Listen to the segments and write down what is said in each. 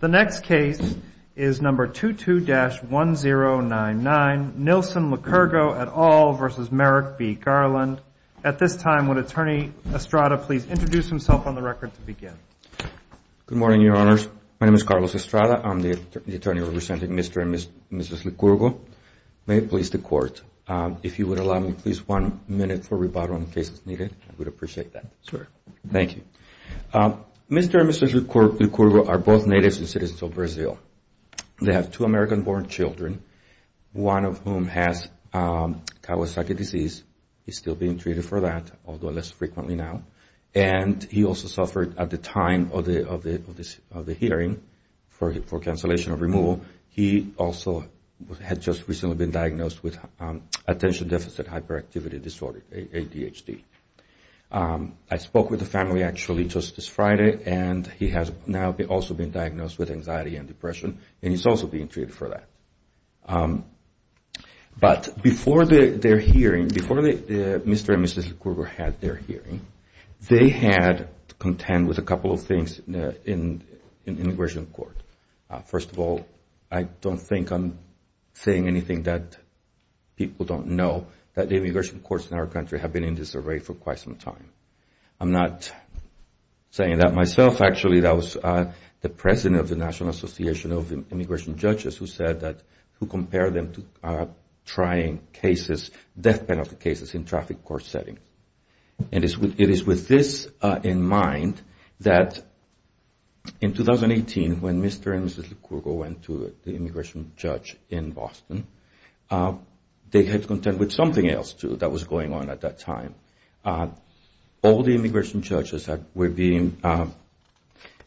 The next case is number 22-1099, Nilsen Licurgo et al. v. Merrick B. Garland. At this time, would Attorney Estrada please introduce himself on the record to begin? Good morning, Your Honors. My name is Carlos Estrada. I'm the attorney representing Mr. and Mrs. Licurgo. May it please the Court, if you would allow me, please, one minute for rebuttal in case it's needed. I would appreciate that. Sure. Thank you. Mr. and Mrs. Licurgo are both natives and citizens of Brazil. They have two American-born children, one of whom has Kawasaki disease. He's still being treated for that, although less frequently now, and he also suffered at the time of the hearing for cancellation of removal. He also had just recently been diagnosed with attention deficit hyperactivity disorder, ADHD. I spoke with the family, actually, just this Friday, and he has now also been diagnosed with anxiety and depression, and he's also being treated for that. But before their hearing, before Mr. and Mrs. Licurgo had their hearing, they had to contend with a couple of things in immigration court. First of all, I don't think I'm saying anything that people don't know, that the immigration courts in our country have been in disarray for quite some time. I'm not saying that myself, actually. That was the president of the National Association of Immigration Judges who said that, who compared them to trying cases, death penalty cases in traffic court setting. And it is with this in mind that in 2018, when Mr. and Mrs. Licurgo went to the immigration judge in Boston, they had to contend with something else, too, that was going on at that time. All the immigration judges were being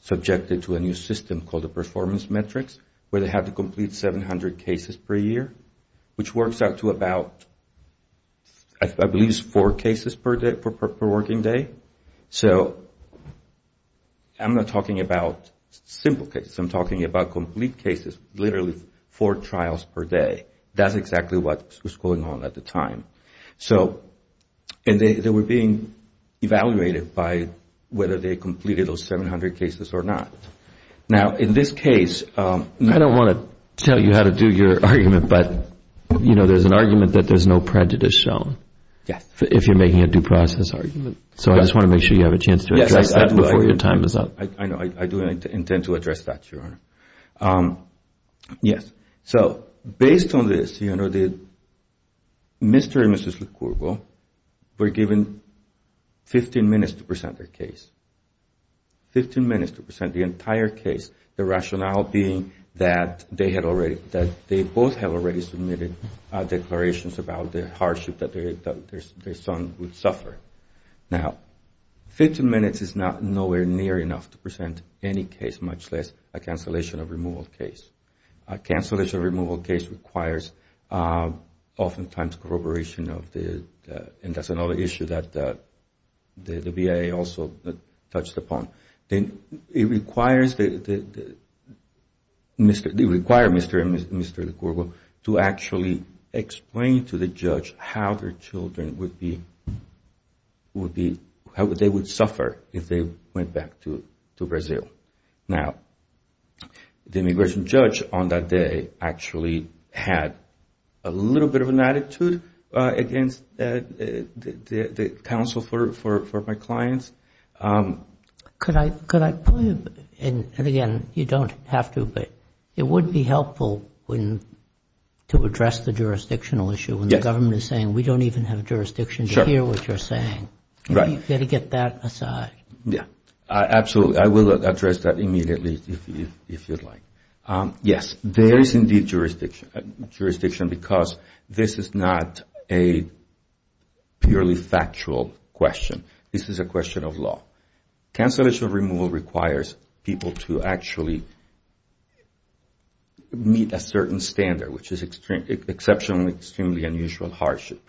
subjected to a new system called the performance metrics, where they had to complete 700 cases per year, which works out to about, I believe, four cases per working day. So I'm not talking about simple cases. I'm talking about complete cases, literally four trials per day. That's exactly what was going on at the time. So they were being evaluated by whether they completed those 700 cases or not. Now, in this case – I don't want to tell you how to do your argument, but, you know, there's an argument that there's no prejudice shown if you're making a due process argument. So I just want to make sure you have a chance to address that before your time is up. I know. I do intend to address that, Your Honor. Yes. So based on this, Mr. and Mrs. Licurgo were given 15 minutes to present their case, 15 minutes to present the entire case, the rationale being that they both had already submitted declarations about the hardship that their son would suffer. Now, 15 minutes is nowhere near enough to present any case, much less a cancellation of removal case. A cancellation of removal case requires oftentimes corroboration of the – and that's another issue that the BIA also touched upon. It requires Mr. and Mrs. Licurgo to actually explain to the judge how their children would be – how they would suffer if they went back to Brazil. Now, the immigration judge on that day actually had a little bit of an attitude against the counsel for my clients. Could I – and again, you don't have to, but it would be helpful to address the jurisdictional issue. Yes. When the government is saying we don't even have jurisdiction to hear what you're saying. Right. You've got to get that aside. Yes. Absolutely. I will address that immediately if you'd like. Yes, there is indeed jurisdiction because this is not a purely factual question. This is a question of law. Cancellation of removal requires people to actually meet a certain standard, which is exceptional and extremely unusual hardship.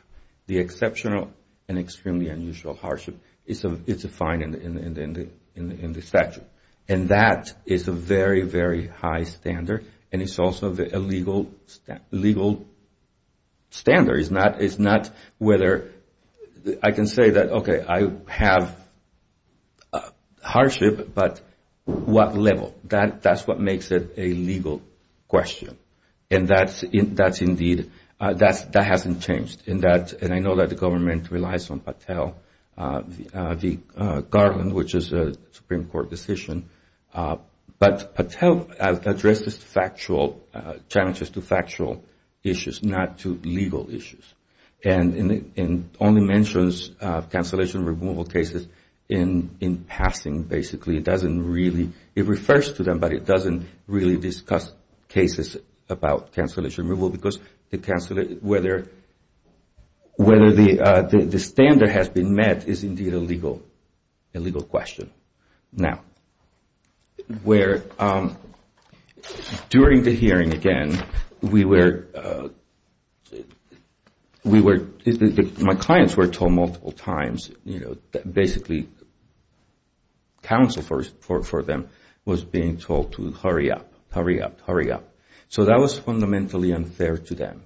The exceptional and extremely unusual hardship is defined in the statute. And that is a very, very high standard, and it's also a legal standard. It's not whether – I can say that, okay, I have hardship, but what level? That's what makes it a legal question. And that's indeed – that hasn't changed. And I know that the government relies on Patel v. Garland, which is a Supreme Court decision. But Patel addresses factual challenges to factual issues, not to legal issues, and only mentions cancellation removal cases in passing, basically. It doesn't really – it refers to them, but it doesn't really discuss cases about cancellation removal because whether the standard has been met is indeed a legal question. Now, where – during the hearing, again, we were – my clients were told multiple times, you know, basically counsel for them was being told to hurry up, hurry up, hurry up. So that was fundamentally unfair to them.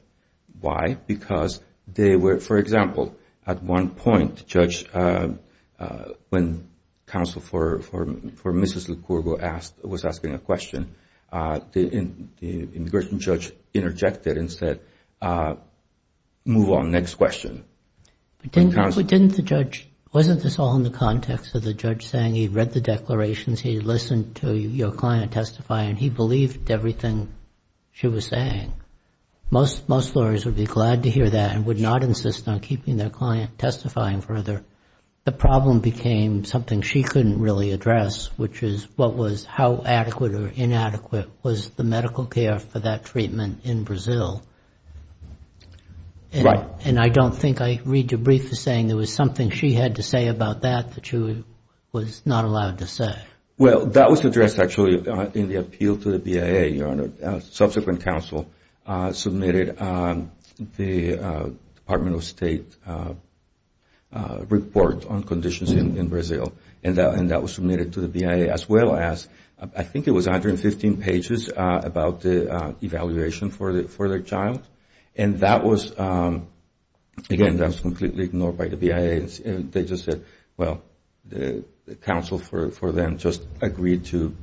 Why? Because they were – for example, at one point, Judge – when counsel for Mrs. LeCour was asking a question, the immigration judge interjected and said, move on, next question. But didn't the judge – wasn't this all in the context of the judge saying he read the declarations, he listened to your client testify, and he believed everything she was saying? Most lawyers would be glad to hear that and would not insist on keeping their client testifying further. The problem became something she couldn't really address, which is what was – how adequate or inadequate was the medical care for that treatment in Brazil. Right. And I don't think I read your brief as saying there was something she had to say about that that she was not allowed to say. Well, that was addressed actually in the appeal to the BIA, Your Honor. Subsequent counsel submitted the Department of State report on conditions in Brazil, and that was submitted to the BIA as well as – I think it was 115 pages about the evaluation for their child. And that was – again, that was completely ignored by the BIA. They just said, well, the counsel for them just agreed to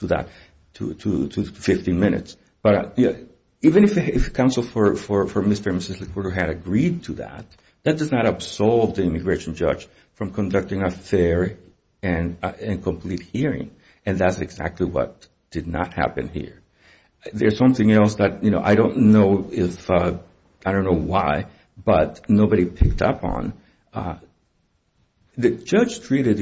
that, to 15 minutes. But even if counsel for Mr. and Mrs. Licordo had agreed to that, that does not absolve the immigration judge from conducting a fair and complete hearing, and that's exactly what did not happen here. There's something else that I don't know if – I don't know why, but nobody picked up on. The judge treated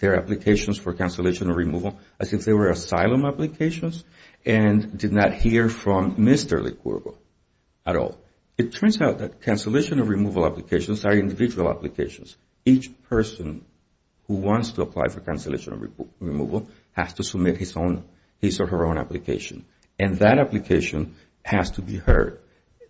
their applications for cancellation or removal as if they were asylum applications and did not hear from Mr. Licordo at all. It turns out that cancellation or removal applications are individual applications. Each person who wants to apply for cancellation or removal has to submit his or her own application, and that application has to be heard.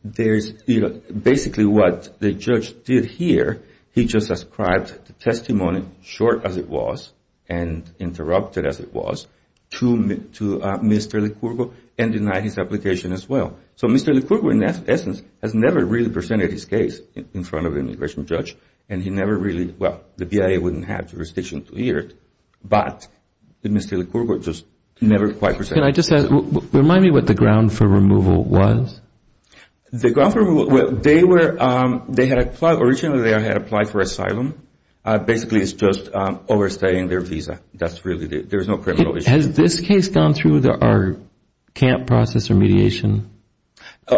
There's basically what the judge did here. He just ascribed the testimony, short as it was and interrupted as it was, to Mr. Licordo and denied his application as well. So Mr. Licordo, in essence, has never really presented his case in front of the immigration judge, and he never really – well, the BIA wouldn't have jurisdiction to hear it, but Mr. Licordo just never quite presented it. Can I just ask – remind me what the ground for removal was? The ground for removal – well, they were – they had applied – originally they had applied for asylum. Basically, it's just overstaying their visa. That's really the – there's no criminal issue. Has this case gone through our camp process or mediation?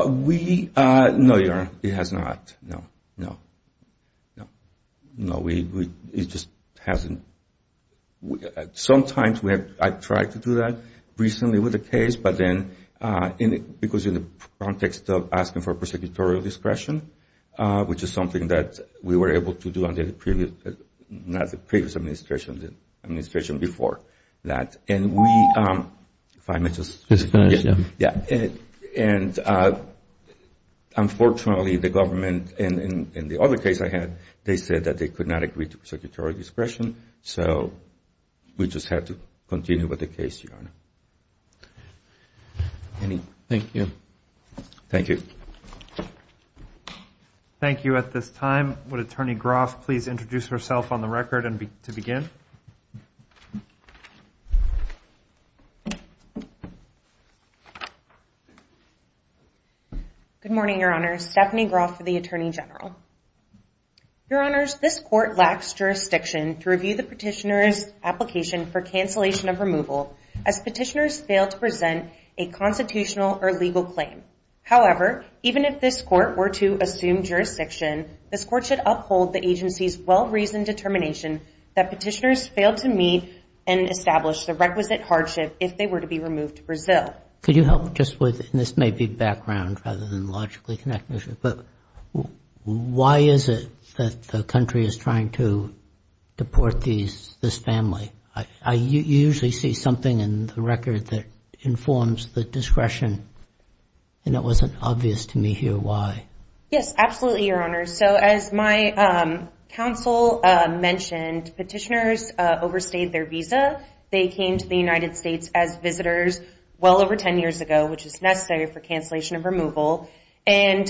We – no, Your Honor, it has not. No, no, no. No, we – it just hasn't. Sometimes we have – I tried to do that recently with the case, but then – because in the context of asking for prosecutorial discretion, which is something that we were able to do under the previous – not the previous administration, the administration before that, and we – if I may just – Yeah. And unfortunately, the government in the other case I had, they said that they could not agree to prosecutorial discretion, so we just had to continue with the case, Your Honor. Any – Thank you. Thank you. Thank you. At this time, would Attorney Groff please introduce herself on the record to begin? Good morning, Your Honors. Stephanie Groff for the Attorney General. Your Honors, this court lacks jurisdiction to review the petitioner's application for cancellation of removal as petitioners fail to present a constitutional or legal claim. However, even if this court were to assume jurisdiction, this court should uphold the agency's well-reasoned determination that petitioners fail to meet and establish the requisite hardship if they were to be removed to Brazil. Could you help just with – and this may be background rather than logically connected, but why is it that the country is trying to deport these – this family? I usually see something in the record that informs the discretion, and it wasn't obvious to me here why. Yes, absolutely, Your Honors. So as my counsel mentioned, petitioners overstayed their visa. They came to the United States as visitors well over 10 years ago, which is necessary for cancellation of removal. And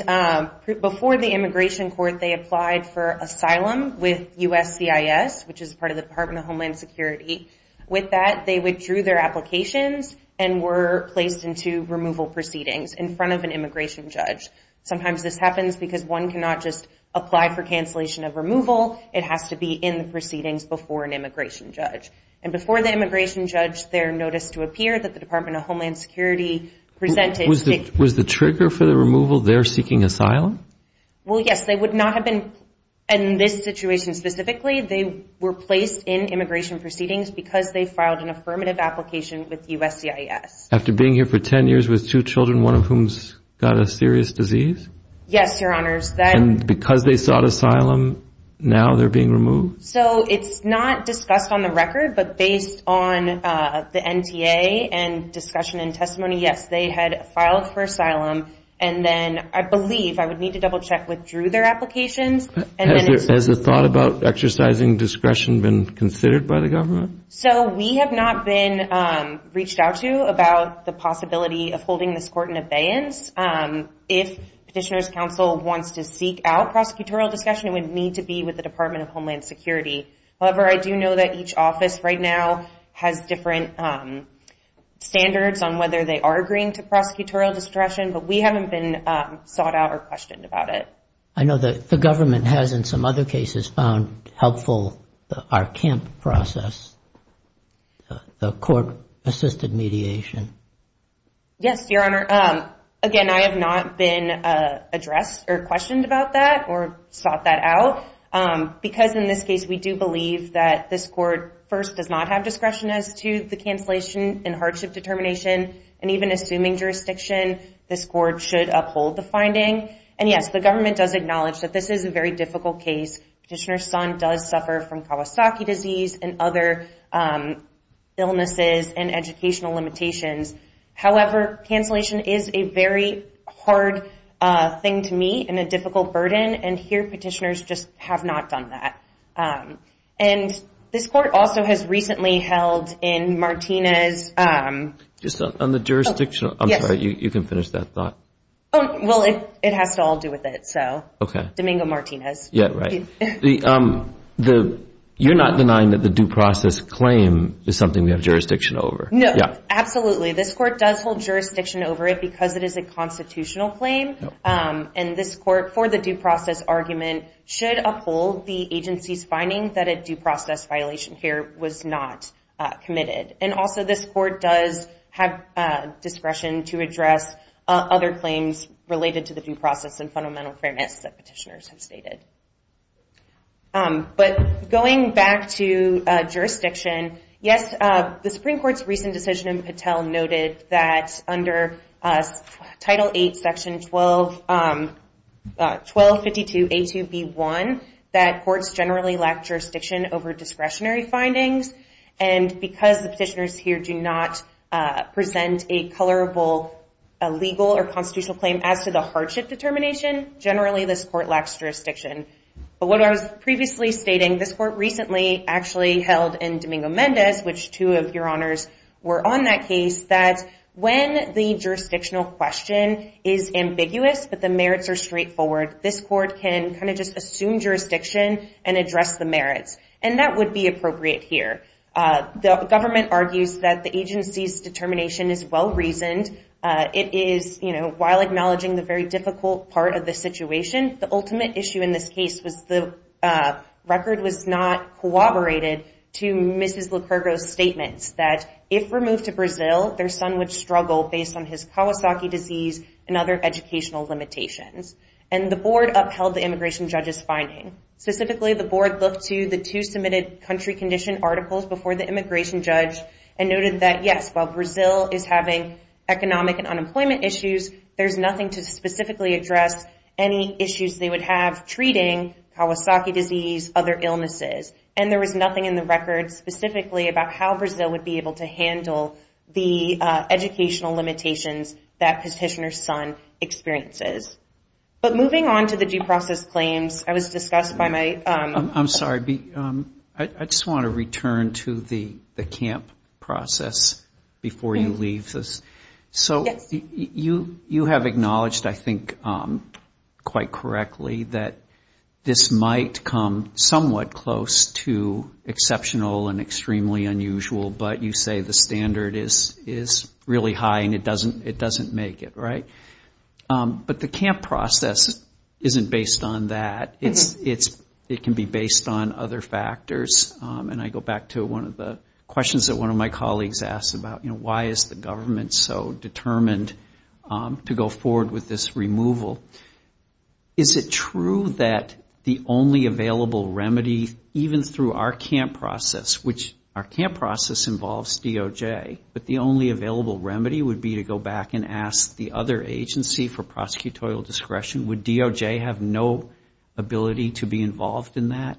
before the immigration court, they applied for asylum with USCIS, which is part of the Department of Homeland Security. With that, they withdrew their applications and were placed into removal proceedings in front of an immigration judge. Sometimes this happens because one cannot just apply for cancellation of removal. It has to be in the proceedings before an immigration judge. And before the immigration judge, their notice to appear that the Department of Homeland Security presented – Was the trigger for the removal their seeking asylum? Well, yes. They would not have been in this situation specifically. They were placed in immigration proceedings because they filed an affirmative application with USCIS. After being here for 10 years with two children, one of whom's got a serious disease? Yes, Your Honors. And because they sought asylum, now they're being removed? So it's not discussed on the record, but based on the NTA and discussion and testimony, yes, they had filed for asylum. And then I believe – I would need to double-check – withdrew their applications. Has the thought about exercising discretion been considered by the government? So we have not been reached out to about the possibility of holding this court in abeyance. If Petitioner's Counsel wants to seek out prosecutorial discussion, it would need to be with the Department of Homeland Security. However, I do know that each office right now has different standards on whether they are agreeing to prosecutorial discretion, but we haven't been sought out or questioned about it. I know that the government has in some other cases found helpful our camp process, the court-assisted mediation. Yes, Your Honor. Again, I have not been addressed or questioned about that or sought that out, because in this case we do believe that this court first does not have discretion as to the cancellation and hardship determination, and even assuming jurisdiction, this court should uphold the finding. And yes, the government does acknowledge that this is a very difficult case. Petitioner's son does suffer from Kawasaki disease and other illnesses and educational limitations. However, cancellation is a very hard thing to meet and a difficult burden, and here petitioners just have not done that. And this court also has recently held in Martinez – Just on the jurisdiction – I'm sorry, you can finish that thought. Well, it has to all do with it. Okay. Domingo Martinez. Yeah, right. You're not denying that the due process claim is something we have jurisdiction over? No, absolutely. This court does hold jurisdiction over it because it is a constitutional claim, and this court, for the due process argument, should uphold the agency's finding that a due process violation here was not committed. And also, this court does have discretion to address other claims related to the due process and fundamental fairness that petitioners have stated. But going back to jurisdiction, yes, the Supreme Court's recent decision in Patel noted that under Title VIII, Section 1252A2B1, that courts generally lack jurisdiction over discretionary findings, and because the petitioners here do not present a colorable legal or constitutional claim as to the hardship determination, generally this court lacks jurisdiction. But what I was previously stating, this court recently actually held in Domingo Mendez, which two of your honors were on that case, that when the jurisdictional question is ambiguous but the merits are straightforward, this court can kind of just assume jurisdiction and address the merits. And that would be appropriate here. The government argues that the agency's determination is well-reasoned. It is, you know, while acknowledging the very difficult part of the situation, the ultimate issue in this case was the record was not corroborated to Mrs. Locurgo's statements that if removed to Brazil, their son would struggle based on his Kawasaki disease and other educational limitations. And the board upheld the immigration judge's finding. Specifically, the board looked to the two submitted country condition articles before the immigration judge and noted that, yes, while Brazil is having economic and unemployment issues, there's nothing to specifically address any issues they would have treating Kawasaki disease, other illnesses. And there was nothing in the record specifically about how Brazil would be able to handle the educational limitations that petitioner's son experiences. But moving on to the due process claims, I was discussed by my... I'm sorry. I just want to return to the camp process before you leave this. So you have acknowledged, I think, quite correctly that this might come somewhat close to exceptional and extremely unusual, but you say the standard is really high and it doesn't make it, right? But the camp process isn't based on that. It can be based on other factors. And I go back to one of the questions that one of my colleagues asked about, you know, why is the government so determined to go forward with this removal? Is it true that the only available remedy, even through our camp process, which our camp process involves DOJ, but the only available remedy would be to go back and ask the other agency for prosecutorial discretion? Would DOJ have no ability to be involved in that?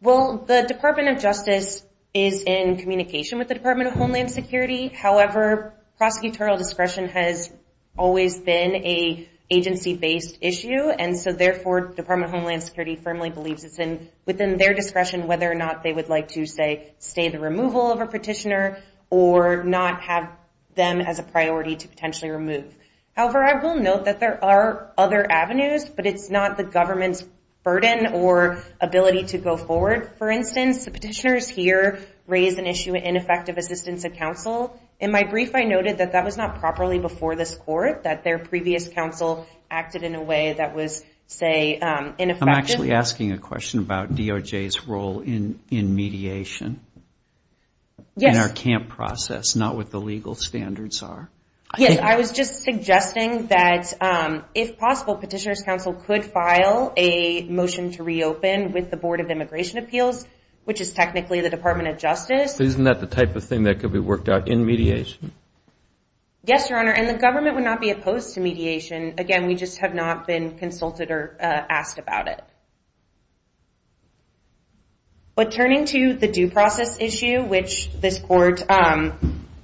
Well, the Department of Justice is in communication with the Department of Homeland Security. However, prosecutorial discretion has always been an agency-based issue, and so therefore Department of Homeland Security firmly believes it's within their discretion whether or not they would like to, say, stay the removal of a petitioner or not have them as a priority to potentially remove. However, I will note that there are other avenues, but it's not the government's burden or ability to go forward. For instance, the petitioners here raised an issue of ineffective assistance of counsel. In my brief, I noted that that was not properly before this court, that their previous counsel acted in a way that was, say, ineffective. I'm actually asking a question about DOJ's role in mediation in our camp process, not what the legal standards are. Yes, I was just suggesting that if possible, petitioners' counsel could file a motion to reopen with the Board of Immigration Appeals, which is technically the Department of Justice. Isn't that the type of thing that could be worked out in mediation? Yes, Your Honor, and the government would not be opposed to mediation. Again, we just have not been consulted or asked about it. But turning to the due process issue, which this court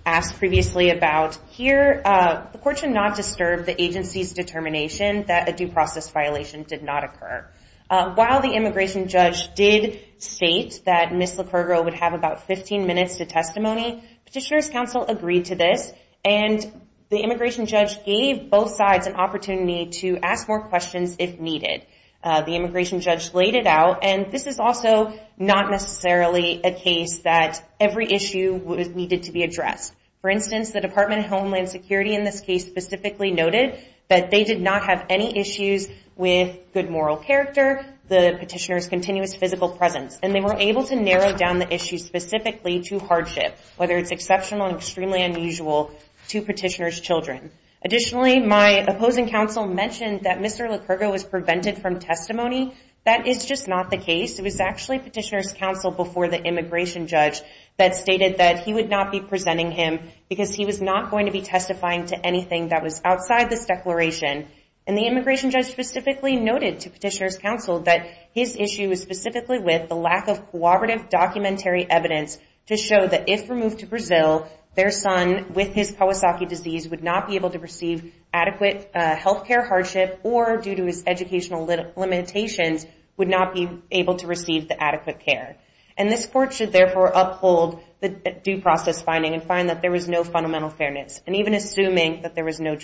asked previously about here, the court should not disturb the agency's determination that a due process violation did not occur. While the immigration judge did state that Ms. Locurgo would have about 15 minutes to testimony, petitioners' counsel agreed to this, and the immigration judge gave both sides an opportunity to ask more questions if needed. The immigration judge laid it out, and this is also not necessarily a case that every issue needed to be addressed. For instance, the Department of Homeland Security in this case specifically noted that they did not have any issues with good moral character, the petitioner's continuous physical presence, and they were able to narrow down the issue specifically to hardship, whether it's exceptional or extremely unusual, to petitioner's children. Additionally, my opposing counsel mentioned that Mr. Locurgo was prevented from testimony. That is just not the case. It was actually petitioner's counsel before the immigration judge that stated that he would not be presenting him because he was not going to be testifying to anything that was outside this declaration. And the immigration judge specifically noted to petitioner's counsel that his issue was specifically with the lack of cooperative documentary evidence to show that if removed to Brazil, their son, with his Kawasaki disease, would not be able to receive adequate health care hardship or, due to his educational limitations, would not be able to receive the adequate care. And this court should therefore uphold the due process finding and find that there was no fundamental fairness, and even assuming that there was no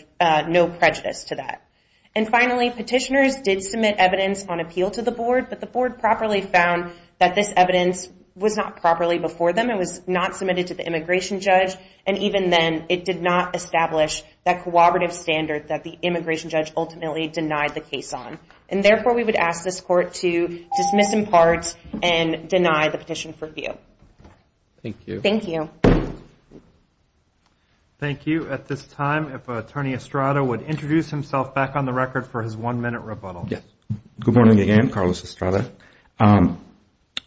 prejudice to that. But the board properly found that this evidence was not properly before them. It was not submitted to the immigration judge. And even then, it did not establish that cooperative standard that the immigration judge ultimately denied the case on. And therefore, we would ask this court to dismiss in part and deny the petition for review. Thank you. Thank you. Thank you. At this time, if Attorney Estrada would introduce himself back on the record for his one-minute rebuttal. Yes. Good morning again. Carlos Estrada.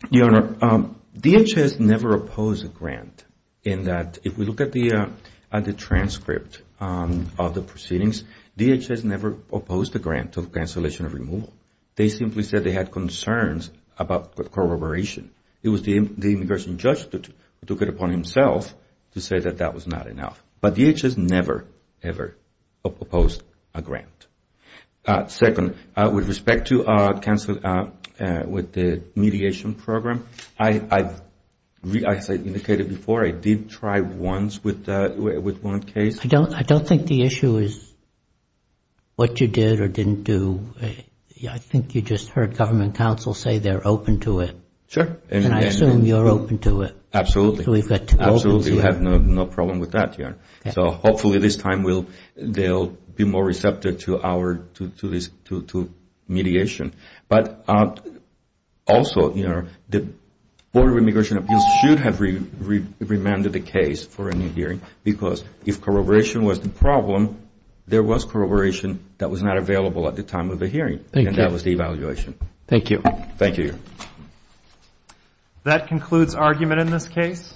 Your Honor, DHS never opposed a grant in that, if we look at the transcript of the proceedings, DHS never opposed a grant to cancellation of removal. They simply said they had concerns about corroboration. It was the immigration judge who took it upon himself to say that that was not enough. But DHS never, ever opposed a grant. Second, with respect to cancellation with the mediation program, as I indicated before, I did try once with one case. I don't think the issue is what you did or didn't do. I think you just heard government counsel say they're open to it. Sure. And I assume you're open to it. Absolutely, we have no problem with that, Your Honor. So hopefully this time they'll be more receptive to mediation. But also, the Board of Immigration Appeals should have remanded the case for a new hearing because if corroboration was the problem, there was corroboration that was not available at the time of the hearing, and that was the evaluation. Thank you. Thank you. That concludes argument in this case.